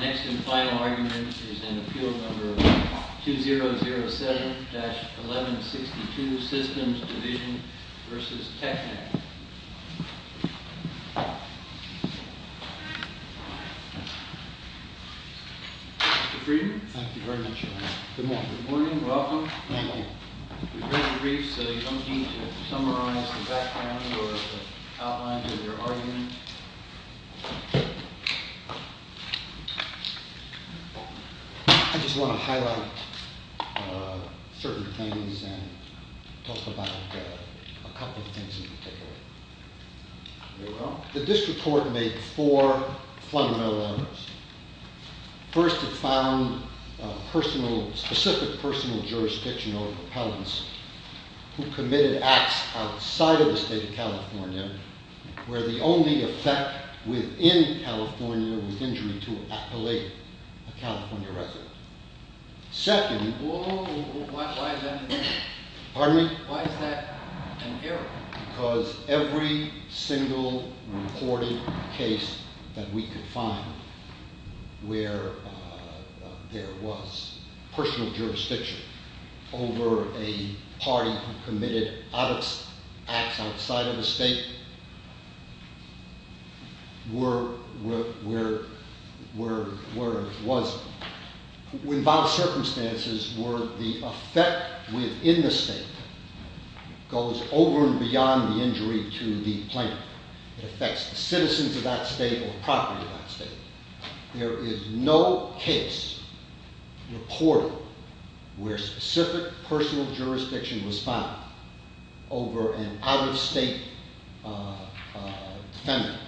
Next and final argument is in Appeal No. 2007-1162, Systems Division v. Teknek. Mr. Friedman? Thank you very much, Your Honor. Good morning. Good morning. Welcome. Good morning. We've read the briefs, so you don't need to summarize the background or the outlines of your argument. I just want to highlight certain things and talk about a couple of things in particular. The district court made four fundamental errors. First, it found specific personal jurisdiction over propellants who committed acts outside of the state of California where the only effect within California was injury to an appellee, a California resident. Second… Why is that an error? Pardon me? Why is that an error? Because every single reported case that we could find where there was personal jurisdiction over a party who committed acts outside of the state was in vile circumstances where the effect within the state goes over and beyond the injury to the plaintiff. It affects the citizens of that state or property of that state. There is no case reported where specific personal jurisdiction was found over an out-of-state defendant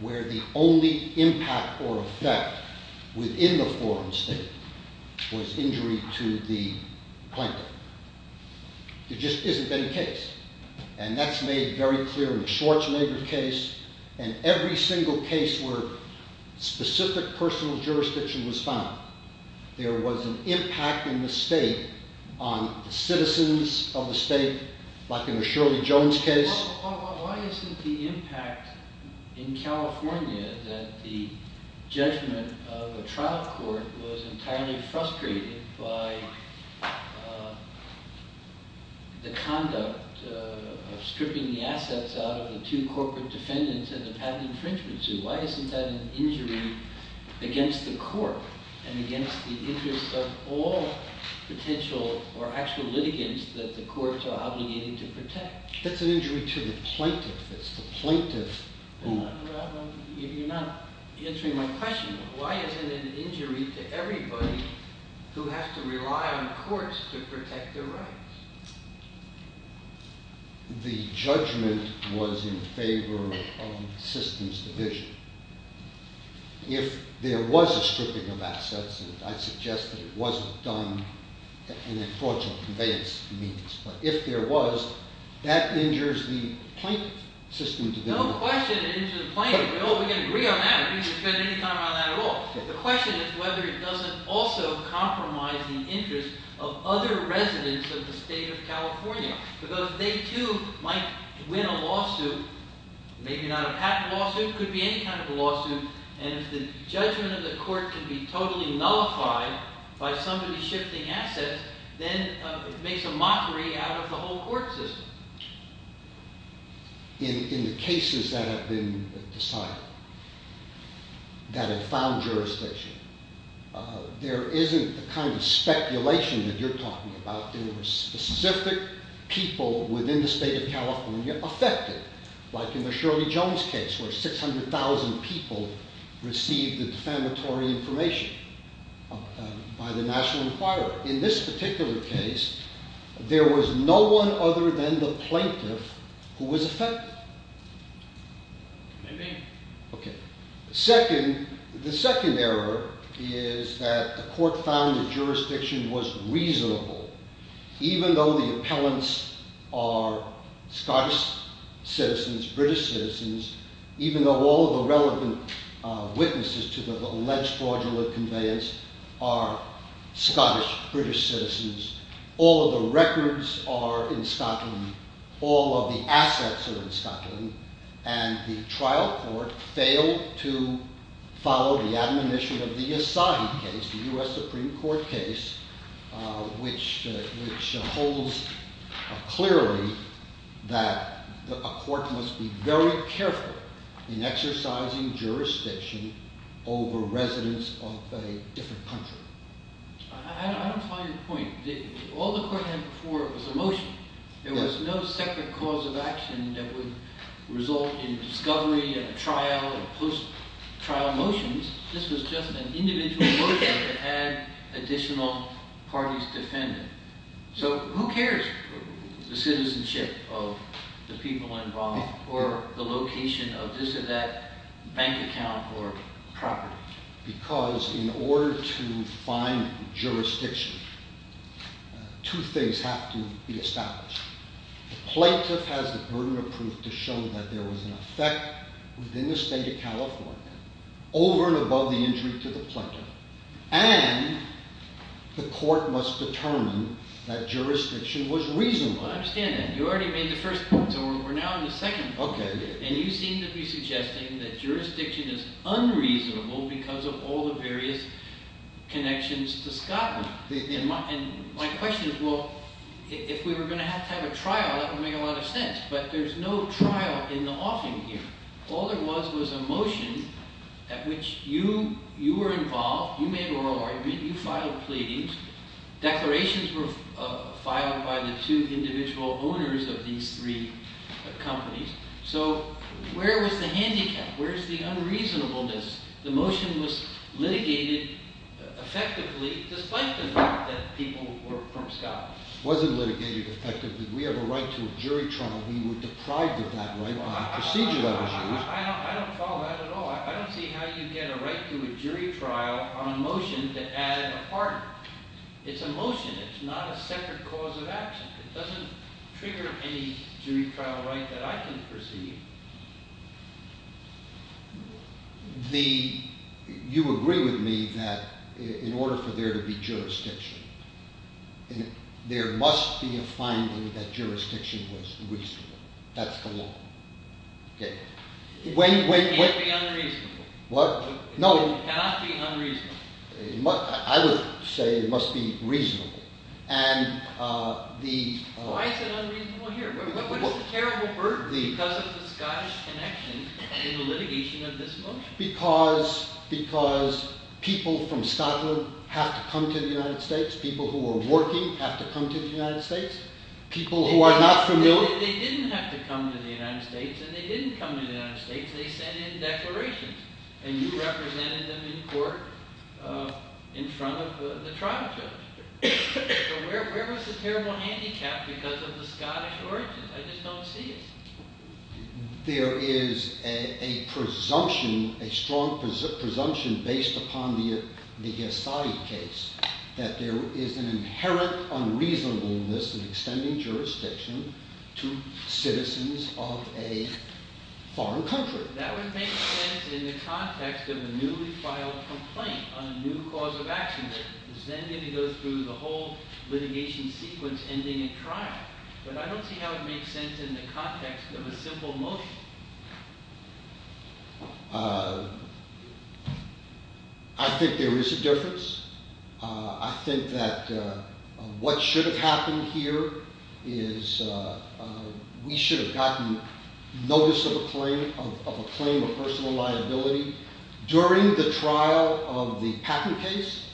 where the only impact or effect within the foreign state was injury to the plaintiff. There just isn't any case, and that's made very clear in the Schwarzenegger case and every single case where specific personal jurisdiction was found. There was an impact in the state on the citizens of the state like in the Shirley Jones case. Why isn't the impact in California that the judgment of a trial court was entirely frustrated by the conduct of stripping the assets out of the two corporate defendants in the patent infringement suit? Why isn't that an injury against the court and against the interest of all potential or actual litigants that the courts are obligated to protect? That's an injury to the plaintiff. You're not answering my question. Why isn't it an injury to everybody who has to rely on courts to protect their rights? The judgment was in favor of systems division. If there was a stripping of assets, and I suggest that it wasn't done in a fraudulent conveyance means, but if there was, that injures the plaintiff. No question it injures the plaintiff. We can agree on that. We can spend any time on that at all. The question is whether it doesn't also compromise the interest of other residents of the state of California. Because they too might win a lawsuit, maybe not a patent lawsuit, could be any kind of a lawsuit, and if the judgment of the court can be totally nullified by somebody shifting assets, then it makes a mockery out of the whole court system. In the cases that have been decided, that have found jurisdiction, there isn't the kind of speculation that you're talking about in the specific people within the state of California affected, like in the Shirley Jones case where 600,000 people received the defamatory information by the National Enquirer. In this particular case, there was no one other than the plaintiff who was affected. The second error is that the court found the jurisdiction was reasonable, even though the appellants are Scottish citizens, British citizens, even though all of the relevant witnesses to the alleged fraudulent conveyance are Scottish, British citizens. All of the records are in Scotland. All of the assets are in Scotland. And the trial court failed to follow the admonition of the Assange case, the U.S. Supreme Court case, which holds clearly that a court must be very careful in exercising jurisdiction over residents of a different country. I don't follow your point. All the court had before was a motion. There was no second cause of action that would result in discovery and trial and post-trial motions. This was just an individual motion that had additional parties defending it. So who cares for the citizenship of the people involved or the location of this or that bank account or property? Because in order to find jurisdiction, two things have to be established. The plaintiff has the burden of proof to show that there was an effect within the state of California over and above the injury to the plaintiff. And the court must determine that jurisdiction was reasonable. I understand that. You already made the first point, so we're now on the second point. And you seem to be suggesting that jurisdiction is unreasonable because of all the various connections to Scotland. And my question is, well, if we were going to have to have a trial, that would make a lot of sense. But there's no trial in the offing here. All there was was a motion at which you were involved. You made a royal argument. You filed pleadings. Declarations were filed by the two individual owners of these three companies. So where was the handicap? Where's the unreasonableness? The motion was litigated effectively despite the fact that people were from Scotland. It wasn't litigated effectively. We have a right to a jury trial. We were deprived of that right by the procedure that was used. I don't follow that at all. I don't see how you get a right to a jury trial on a motion to add a partner. It's a motion. It's not a separate cause of action. It doesn't trigger any jury trial right that I can perceive. You agree with me that in order for there to be jurisdiction, there must be a finding that jurisdiction was reasonable. That's the law. It can't be unreasonable. It cannot be unreasonable. I would say it must be reasonable. Why is it unreasonable here? What is the terrible burden because of the Scottish connection in the litigation of this motion? Because people from Scotland have to come to the United States. People who are working have to come to the United States. People who are not familiar... They didn't have to come to the United States and they didn't come to the United States. They sent in declarations and you represented them in court in front of the trial judge. So where was the terrible handicap because of the Scottish origin? I just don't see it. There is a presumption, a strong presumption based upon the Gasadi case, that there is an inherent unreasonableness in extending jurisdiction to citizens of a foreign country. That would make sense in the context of a newly filed complaint on a new cause of action. It's then going to go through the whole litigation sequence ending in trial. But I don't see how it makes sense in the context of a simple motion. I think there is a difference. I think that what should have happened here is we should have gotten notice of a claim of personal liability during the trial of the patent case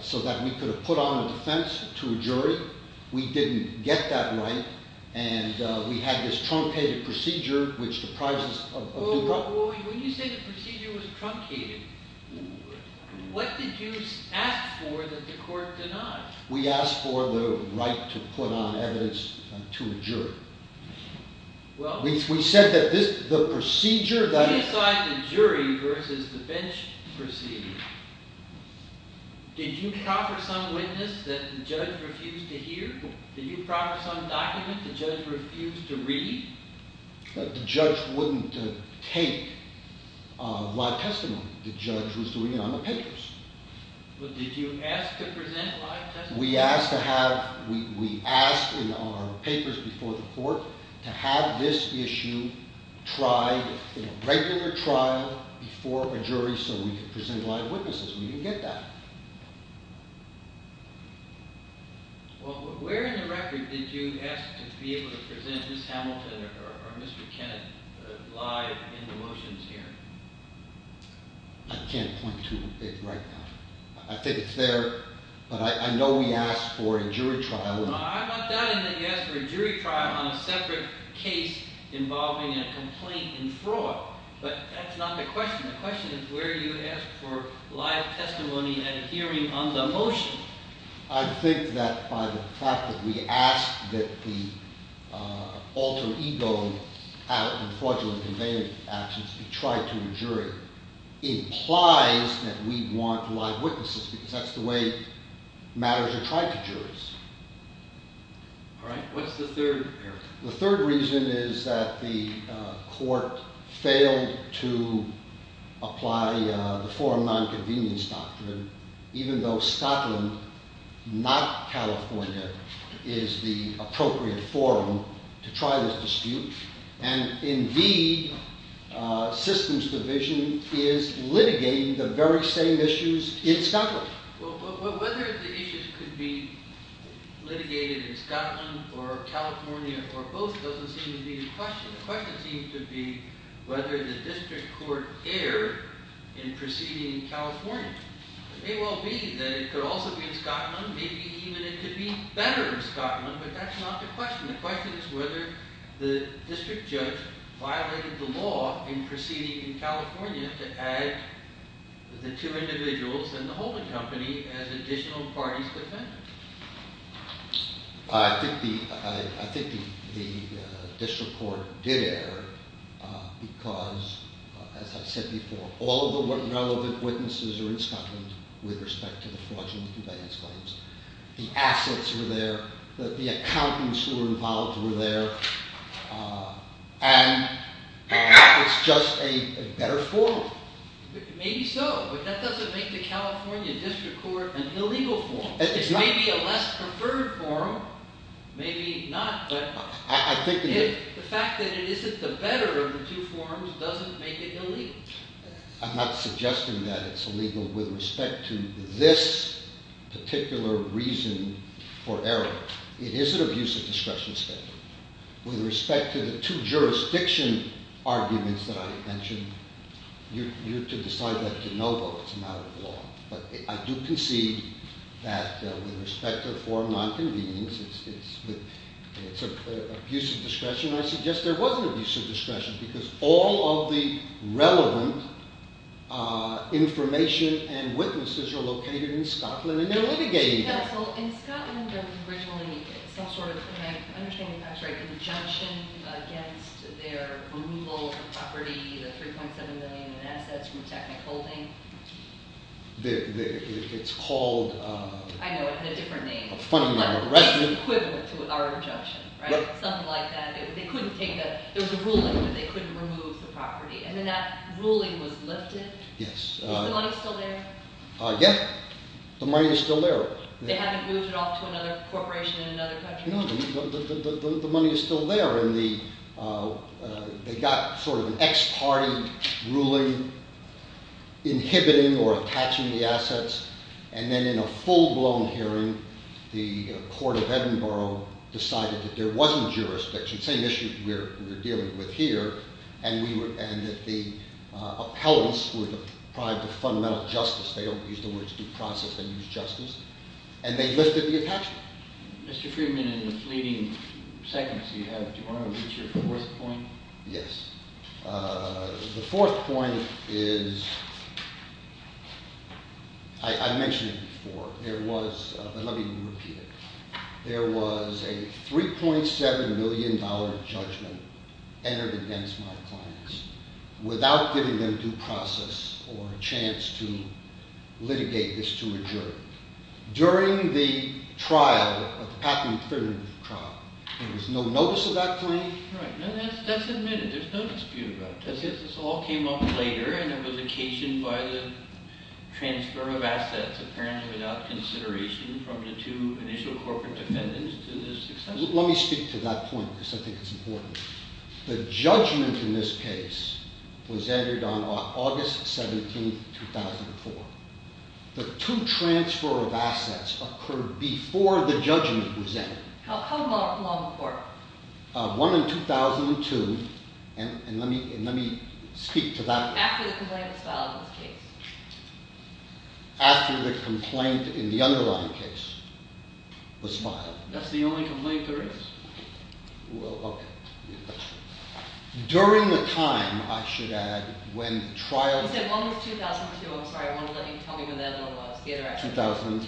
so that we could have put on a defense to a jury. We didn't get that right and we had this truncated procedure which... When you say the procedure was truncated, what did you ask for that the court denied? We asked for the right to put on evidence to a jury. We said that the procedure... When you decide the jury versus the bench procedure, did you offer some witness that the judge refused to hear? Did you offer some document the judge refused to read? The judge wouldn't take live testimony. The judge was doing it on the papers. But did you ask to present live testimony? We asked in our papers before the court to have this issue tried in a regular trial before a jury so we could present live witnesses. We didn't get that. Where in the record did you ask to be able to present Ms. Hamilton or Mr. Kennett live in the motions hearing? I can't point to it right now. I think it's there. But I know we asked for a jury trial. I'm not doubting that you asked for a jury trial on a separate case involving a complaint in fraud. But that's not the question. The question is where you asked for live testimony at a hearing on the motion. I think that by the fact that we asked that the alter ego have fraudulent actions be tried to a jury implies that we want live witnesses because that's the way matters are tried to juries. All right. What's the third area? The third reason is that the court failed to apply the forum nonconvenience doctrine even though Scotland, not California, is the appropriate forum to try this dispute. And in the systems division is litigating the very same issues in Scotland. Whether the issues could be litigated in Scotland or California or both doesn't seem to be the question. The question seems to be whether the district court erred in proceeding in California. It may well be that it could also be in Scotland. Maybe even it could be better in Scotland. But that's not the question. The question is whether the district judge violated the law in proceeding in California to add the two individuals and the holding company as additional parties. I think the district court did err because, as I said before, all of the relevant witnesses are in Scotland with respect to the fraudulent conveyance claims. The assets were there. The accountants who were involved were there. And it's just a better forum. Maybe so. But that doesn't make the California district court an illegal forum. It may be a less preferred forum. Maybe not. But the fact that it isn't the better of the two forums doesn't make it illegal. I'm not suggesting that it's illegal with respect to this particular reason for error. It is an abuse of discretion statement. With respect to the two jurisdiction arguments that I mentioned, you're to decide that de novo. It's a matter of law. But I do concede that with respect to the forum nonconvenience, it's an abuse of discretion. I suggest there was an abuse of discretion because all of the relevant information and witnesses are located in Scotland, and they're litigating that. In Scotland, there was originally some sort of injunction against their removal of the property, the $3.7 million in assets from Technicolting. It's called a fundamental arrestment. It's equivalent to our injunction, right? Something like that. They couldn't take that. There was a ruling that they couldn't remove the property. And then that ruling was lifted. Yes. Is the money still there? Yeah. The money is still there. They haven't moved it off to another corporation in another country? No. The money is still there. And they got sort of an ex parte ruling inhibiting or attaching the assets. And then in a full-blown hearing, the court of Edinburgh decided that there wasn't jurisdiction. Same issue we're dealing with here. And that the appellants were deprived of fundamental justice. They don't use the words due process. They use justice. And they lifted the attachment. Mr. Freeman, in the fleeting seconds you have, do you want to reach your fourth point? Yes. The fourth point is, I mentioned it before. There was, but let me repeat it. There was a $3.7 million judgment entered against my clients without giving them due process or a chance to litigate this to a jury. During the trial, the patent infringement trial, there was no notice of that claim? Right. That's admitted. There's no dispute about it. But this all came up later and it was occasioned by the transfer of assets, apparently without consideration from the two initial corporate defendants to this extent? Let me speak to that point because I think it's important. The judgment in this case was entered on August 17, 2004. The two transfer of assets occurred before the judgment was entered. How long before? One in 2002. And let me speak to that. After the complaint was filed in this case? After the complaint in the underlying case was filed. That's the only complaint there is? Well, okay. During the time, I should add, when trials… You said one was 2002. I'm sorry. I wanted to let you tell me when the other one was. 2003.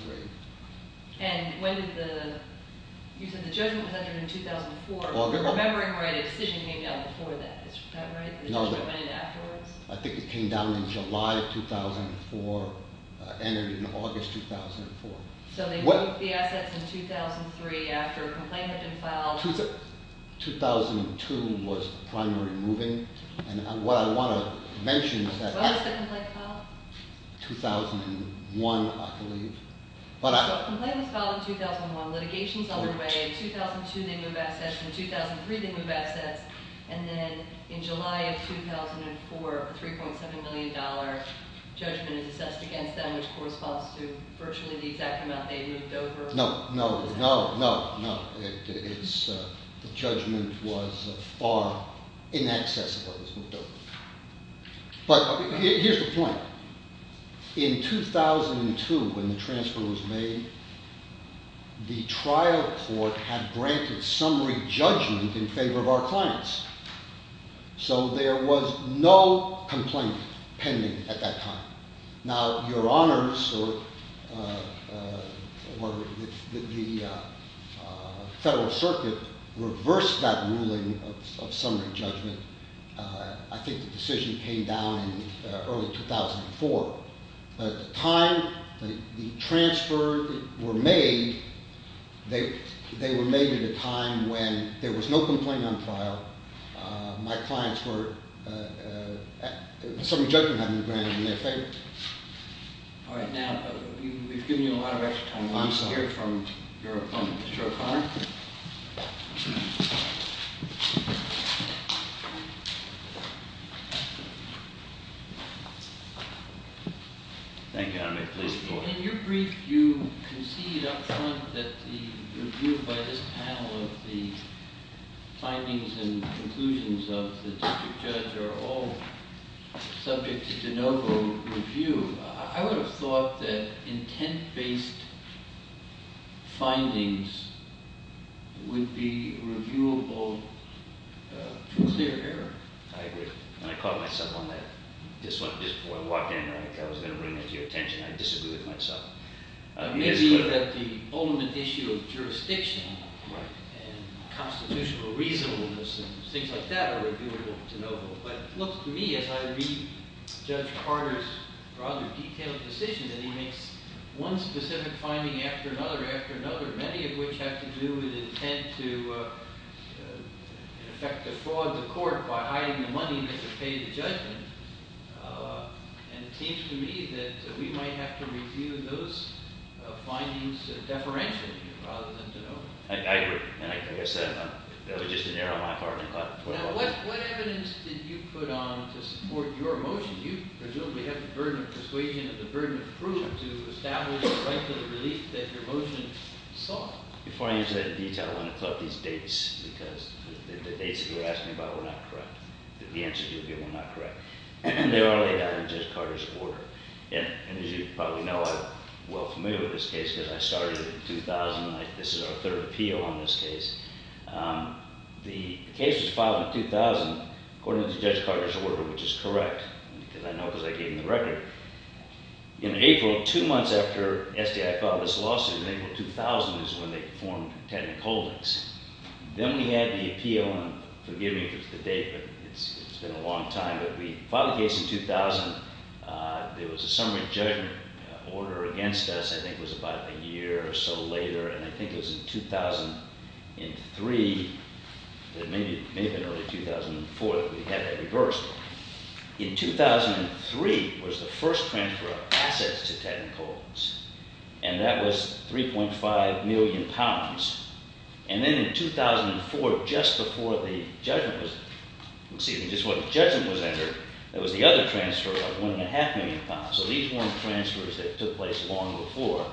And when did the…you said the judgment was entered in 2004. If I'm remembering right, a decision came down before that. Is that right? No. The judgment went in afterwards? I think it came down in July of 2004, entered in August 2004. So they broke the assets in 2003 after a complaint had been filed. 2002 was primary moving. And what I want to mention is that… When was the complaint filed? 2001, I believe. The complaint was filed in 2001. Litigation is underway. In 2002, they move assets. In 2003, they move assets. And then in July of 2004, a $3.7 million judgment is assessed against them, which corresponds to virtually the exact amount they moved over. No, no, no, no, no. The judgment was far inaccessible. It was moved over. But here's the point. In 2002, when the transfer was made, the trial court had granted summary judgment in favor of our clients. So there was no complaint pending at that time. Now, Your Honors or the Federal Circuit reversed that ruling of summary judgment. I think the decision came down in early 2004. But the time the transfer were made, they were made at a time when there was no complaint on trial. My clients were… Summary judgment had been granted in their favor. All right. Now, we've given you a lot of extra time. Let's hear from your opponent, Mr. O'Connor. Thank you. Thank you, Your Honor. In your brief, you concede up front that the review by this panel of the findings and conclusions of the district judge are all subject to de novo review. I would have thought that intent-based findings would be reviewable to clear error. I agree. And I caught myself on that just before I walked in. I was going to bring that to your attention. I disagree with myself. Maybe that the ultimate issue of jurisdiction and constitutional reasonableness and things like that are reviewable to de novo. But it looks to me, as I read Judge Carter's rather detailed decision, that he makes one specific finding after another after another, many of which have to do with intent to, in effect, to fraud the court by hiding the money that should pay the judgment. And it seems to me that we might have to review those findings deferentially rather than de novo. I agree. Now, what evidence did you put on to support your motion? You presumably have the burden of persuasion and the burden of proof to establish the right to the relief that your motion sought. Before I get into that detail, I want to talk about these dates because the dates that you're asking about were not correct. The answers you gave were not correct. They were laid out in Judge Carter's order. And as you probably know, I'm well familiar with this case because I started in 2009. This is our third appeal on this case. The case was filed in 2000 according to Judge Carter's order, which is correct, because I know because I gave him the record. In April, two months after SDI filed this lawsuit, in April of 2000 is when they formed Tenant Holdings. Then we had the appeal, and forgive me if it's the date, but it's been a long time, but we filed the case in 2000. There was a summary judgment order against us, I think it was about a year or so later, and I think it was in 2003. It may have been early 2004 that we had that reversed. In 2003 was the first transfer of assets to Tenant Holdings, and that was 3.5 million pounds. And then in 2004, just before the judgment was, let's see, just before the judgment was entered, there was the other transfer of 1.5 million pounds. So these weren't transfers that took place long before.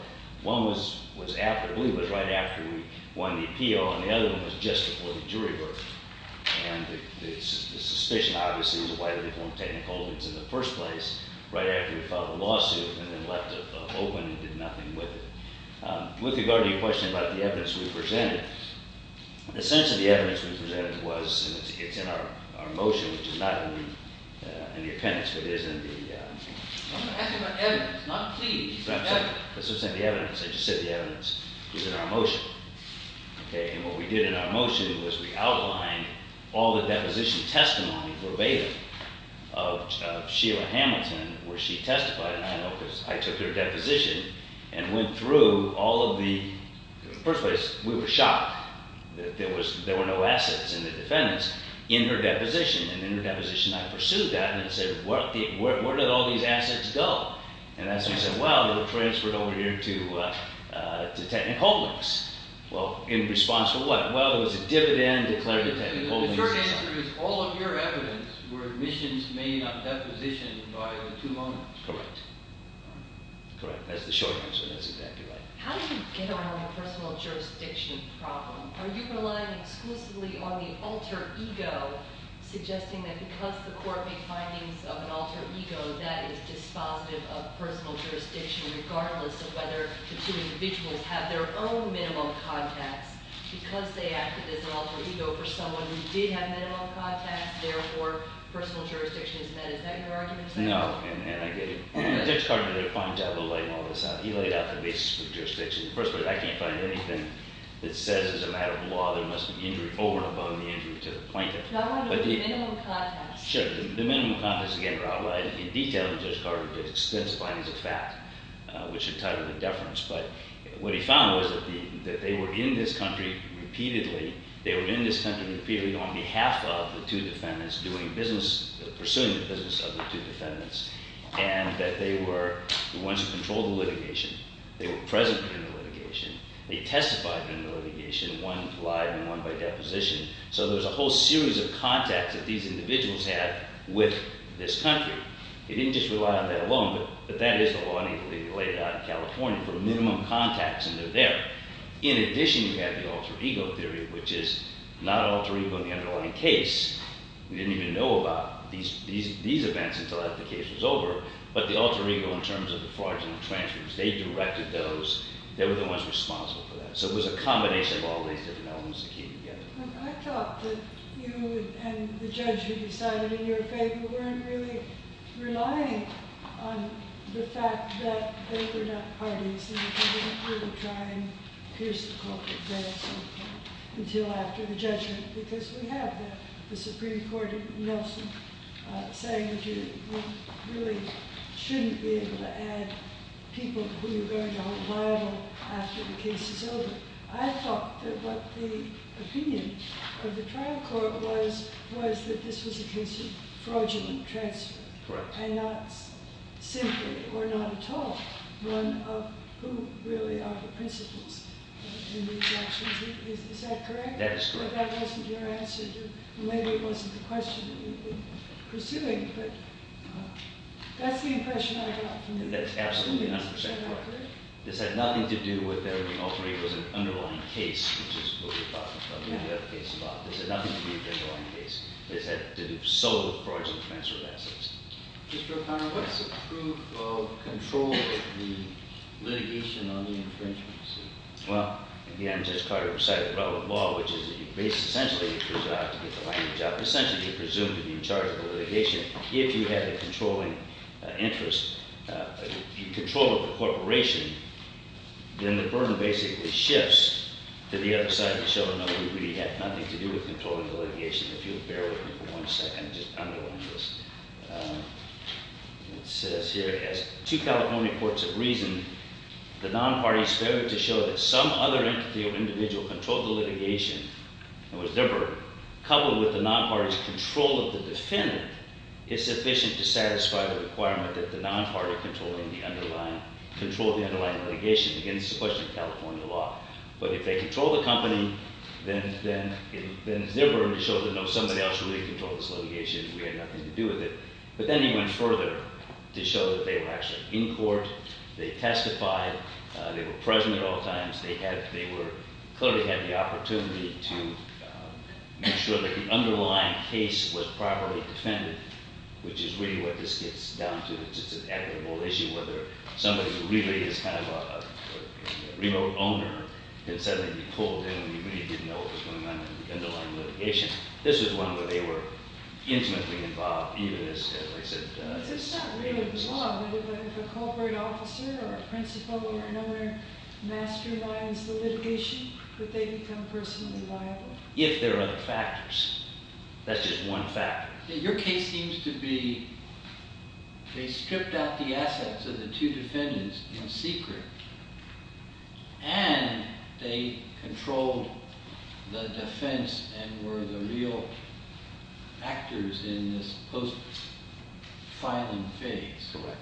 One was after, I believe it was right after we won the appeal, and the other one was just before the jury verdict. And the suspicion, obviously, was why they formed Tenant Holdings in the first place right after we filed the lawsuit and then left it open and did nothing with it. With regard to your question about the evidence we presented, the sense of the evidence we presented was, and it's in our motion, which is not in the appendix, but is in the… I'm asking about evidence, not plea. Let's just say the evidence. I just said the evidence is in our motion. And what we did in our motion was we outlined all the deposition testimony verbatim of Sheila Hamilton where she testified, and I know because I took her deposition and went through all of the… In the first place, we were shocked that there were no assets in the defendants in her deposition, and in her deposition I pursued that and said, where did all these assets go? And that's when I said, well, they were transferred over here to Tenant Holdings. Well, in response to what? Well, it was a dividend declared to Tenant Holdings. The short answer is all of your evidence were admissions made on deposition by the two loaners. Correct. Correct. That's the short answer. That's exactly right. How did you get around the personal jurisdiction problem? Are you relying exclusively on the alter ego, suggesting that because the court made findings of an alter ego, that is dispositive of personal jurisdiction regardless of whether the two individuals have their own minimum contacts? Because they acted as an alter ego for someone who did have minimum contacts, therefore personal jurisdiction is met. Is that your argument? No, and I get it. Judge Carter did a fine job of laying all this out. He laid out the basis for jurisdiction. First of all, I can't find anything that says as a matter of law there must be an injury over and above the injury to the plaintiff. Not one of the minimum contacts. Sure. The minimum contacts, again, are outlined in detail in Judge Carter's case, specified as a fact, which entitled the deference. But what he found was that they were in this country repeatedly. They were in this country repeatedly on behalf of the two defendants pursuing the business of the two defendants, and that they were the ones who controlled the litigation. They were present in the litigation. They testified in the litigation. One lied and one by deposition. So there's a whole series of contacts that these individuals had with this country. They didn't just rely on that alone, but that is the law needed to be laid out in California for minimum contacts, and they're there. In addition, you have the alter ego theory, which is not an alter ego in the underlying case. We didn't even know about these events until after the case was over, but the alter ego in terms of the fraudulent transfers, they directed those. They were the ones responsible for that. So it was a combination of all these different elements to keep together. I thought that you and the judge who decided in your favor weren't really relying on the fact that they were not parties, and that you didn't really try and pierce the culprit there at some point until after the judgment, because we have the Supreme Court in Nelson saying you really shouldn't be able to add people who you're going to hold liable after the case is over. I thought that what the opinion of the trial court was was that this was a case of fraudulent transfer. Correct. And not simply, or not at all, one of who really are the principles in these actions. Is that correct? That is correct. Or that wasn't your answer, and maybe it wasn't the question that you've been pursuing, but that's the impression I got from you. That's absolutely 100% correct. This had nothing to do with the alter ego. It was an underlying case, which is what we're talking about. We have a case about this. It had nothing to do with the underlying case. This had to do solely with fraudulent transfer of assets. Mr. O'Connor, what's the proof of control of the litigation on the infringements? Well, again, Judge Carter decided the relevant law, which is that you basically have to get behind your job. Essentially, you're presumed to be in charge of the litigation. If you had a controlling interest, control of the corporation, then the burden basically shifts to the other side to show, no, you really had nothing to do with controlling the litigation. If you'll bear with me for one second, just underline this. It says here, as two California courts have reasoned, the non-parties failed to show that some other entity or individual controlled the litigation. In other words, their burden. Coupled with the non-party's control of the defendant is sufficient to satisfy the requirement that the non-party controlling the underlying litigation against the question of California law. But if they control the company, then it's their burden to show that, no, somebody else really controlled this litigation and we had nothing to do with it. But then he went further to show that they were actually in court. They testified. They were present at all times. They clearly had the opportunity to make sure that the underlying case was properly defended, which is really what this gets down to. It's just an equitable issue, whether somebody who really is kind of a remote owner can suddenly be pulled in when you really didn't know what was going on in the underlying litigation. This is one where they were intimately involved, even as I said earlier. But it's not really the law. If a corporate officer or a principal or another masterminds the litigation, would they become personally liable? If there are other factors. That's just one factor. Your case seems to be they stripped out the assets of the two defendants in secret and they controlled the defense and were the real actors in this post-filing phase. Correct.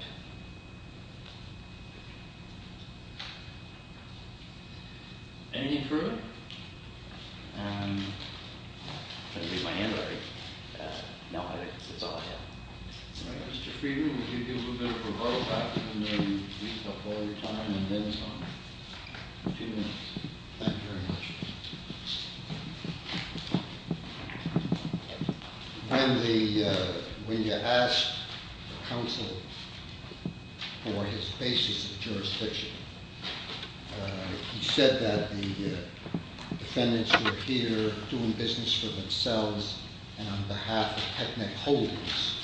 Anything further? I'm going to get my hand ready. No, it's all I have. All right, Mr. Friedman, we'll give you a little bit of a vote after you've used up all your time and then some. Thank you very much. When you ask the counsel for his basis of jurisdiction, he said that the defendants were here doing business for themselves and on behalf of technic holdings.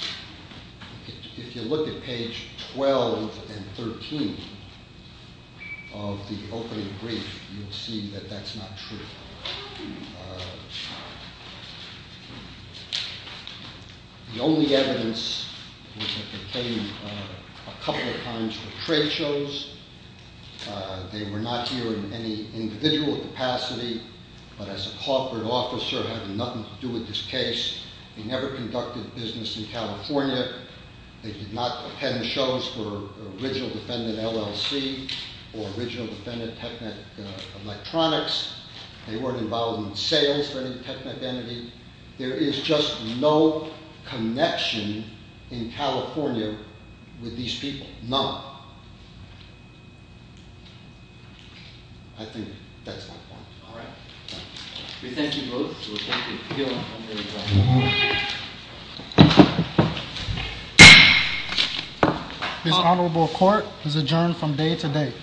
If you look at page 12 and 13 of the opening brief, you'll see that that's not true. The only evidence was that they came a couple of times for trade shows. They were not here in any individual capacity, but as a corporate officer having nothing to do with this case, they never conducted business in California. They did not attend shows for original defendant LLC or original defendant Technic Electronics. They weren't involved in sales for any technical entity. There is just no connection in California with these people. None. I think that's my point. All right. We thank you both. This honorable court is adjourned from day to day. Thank you.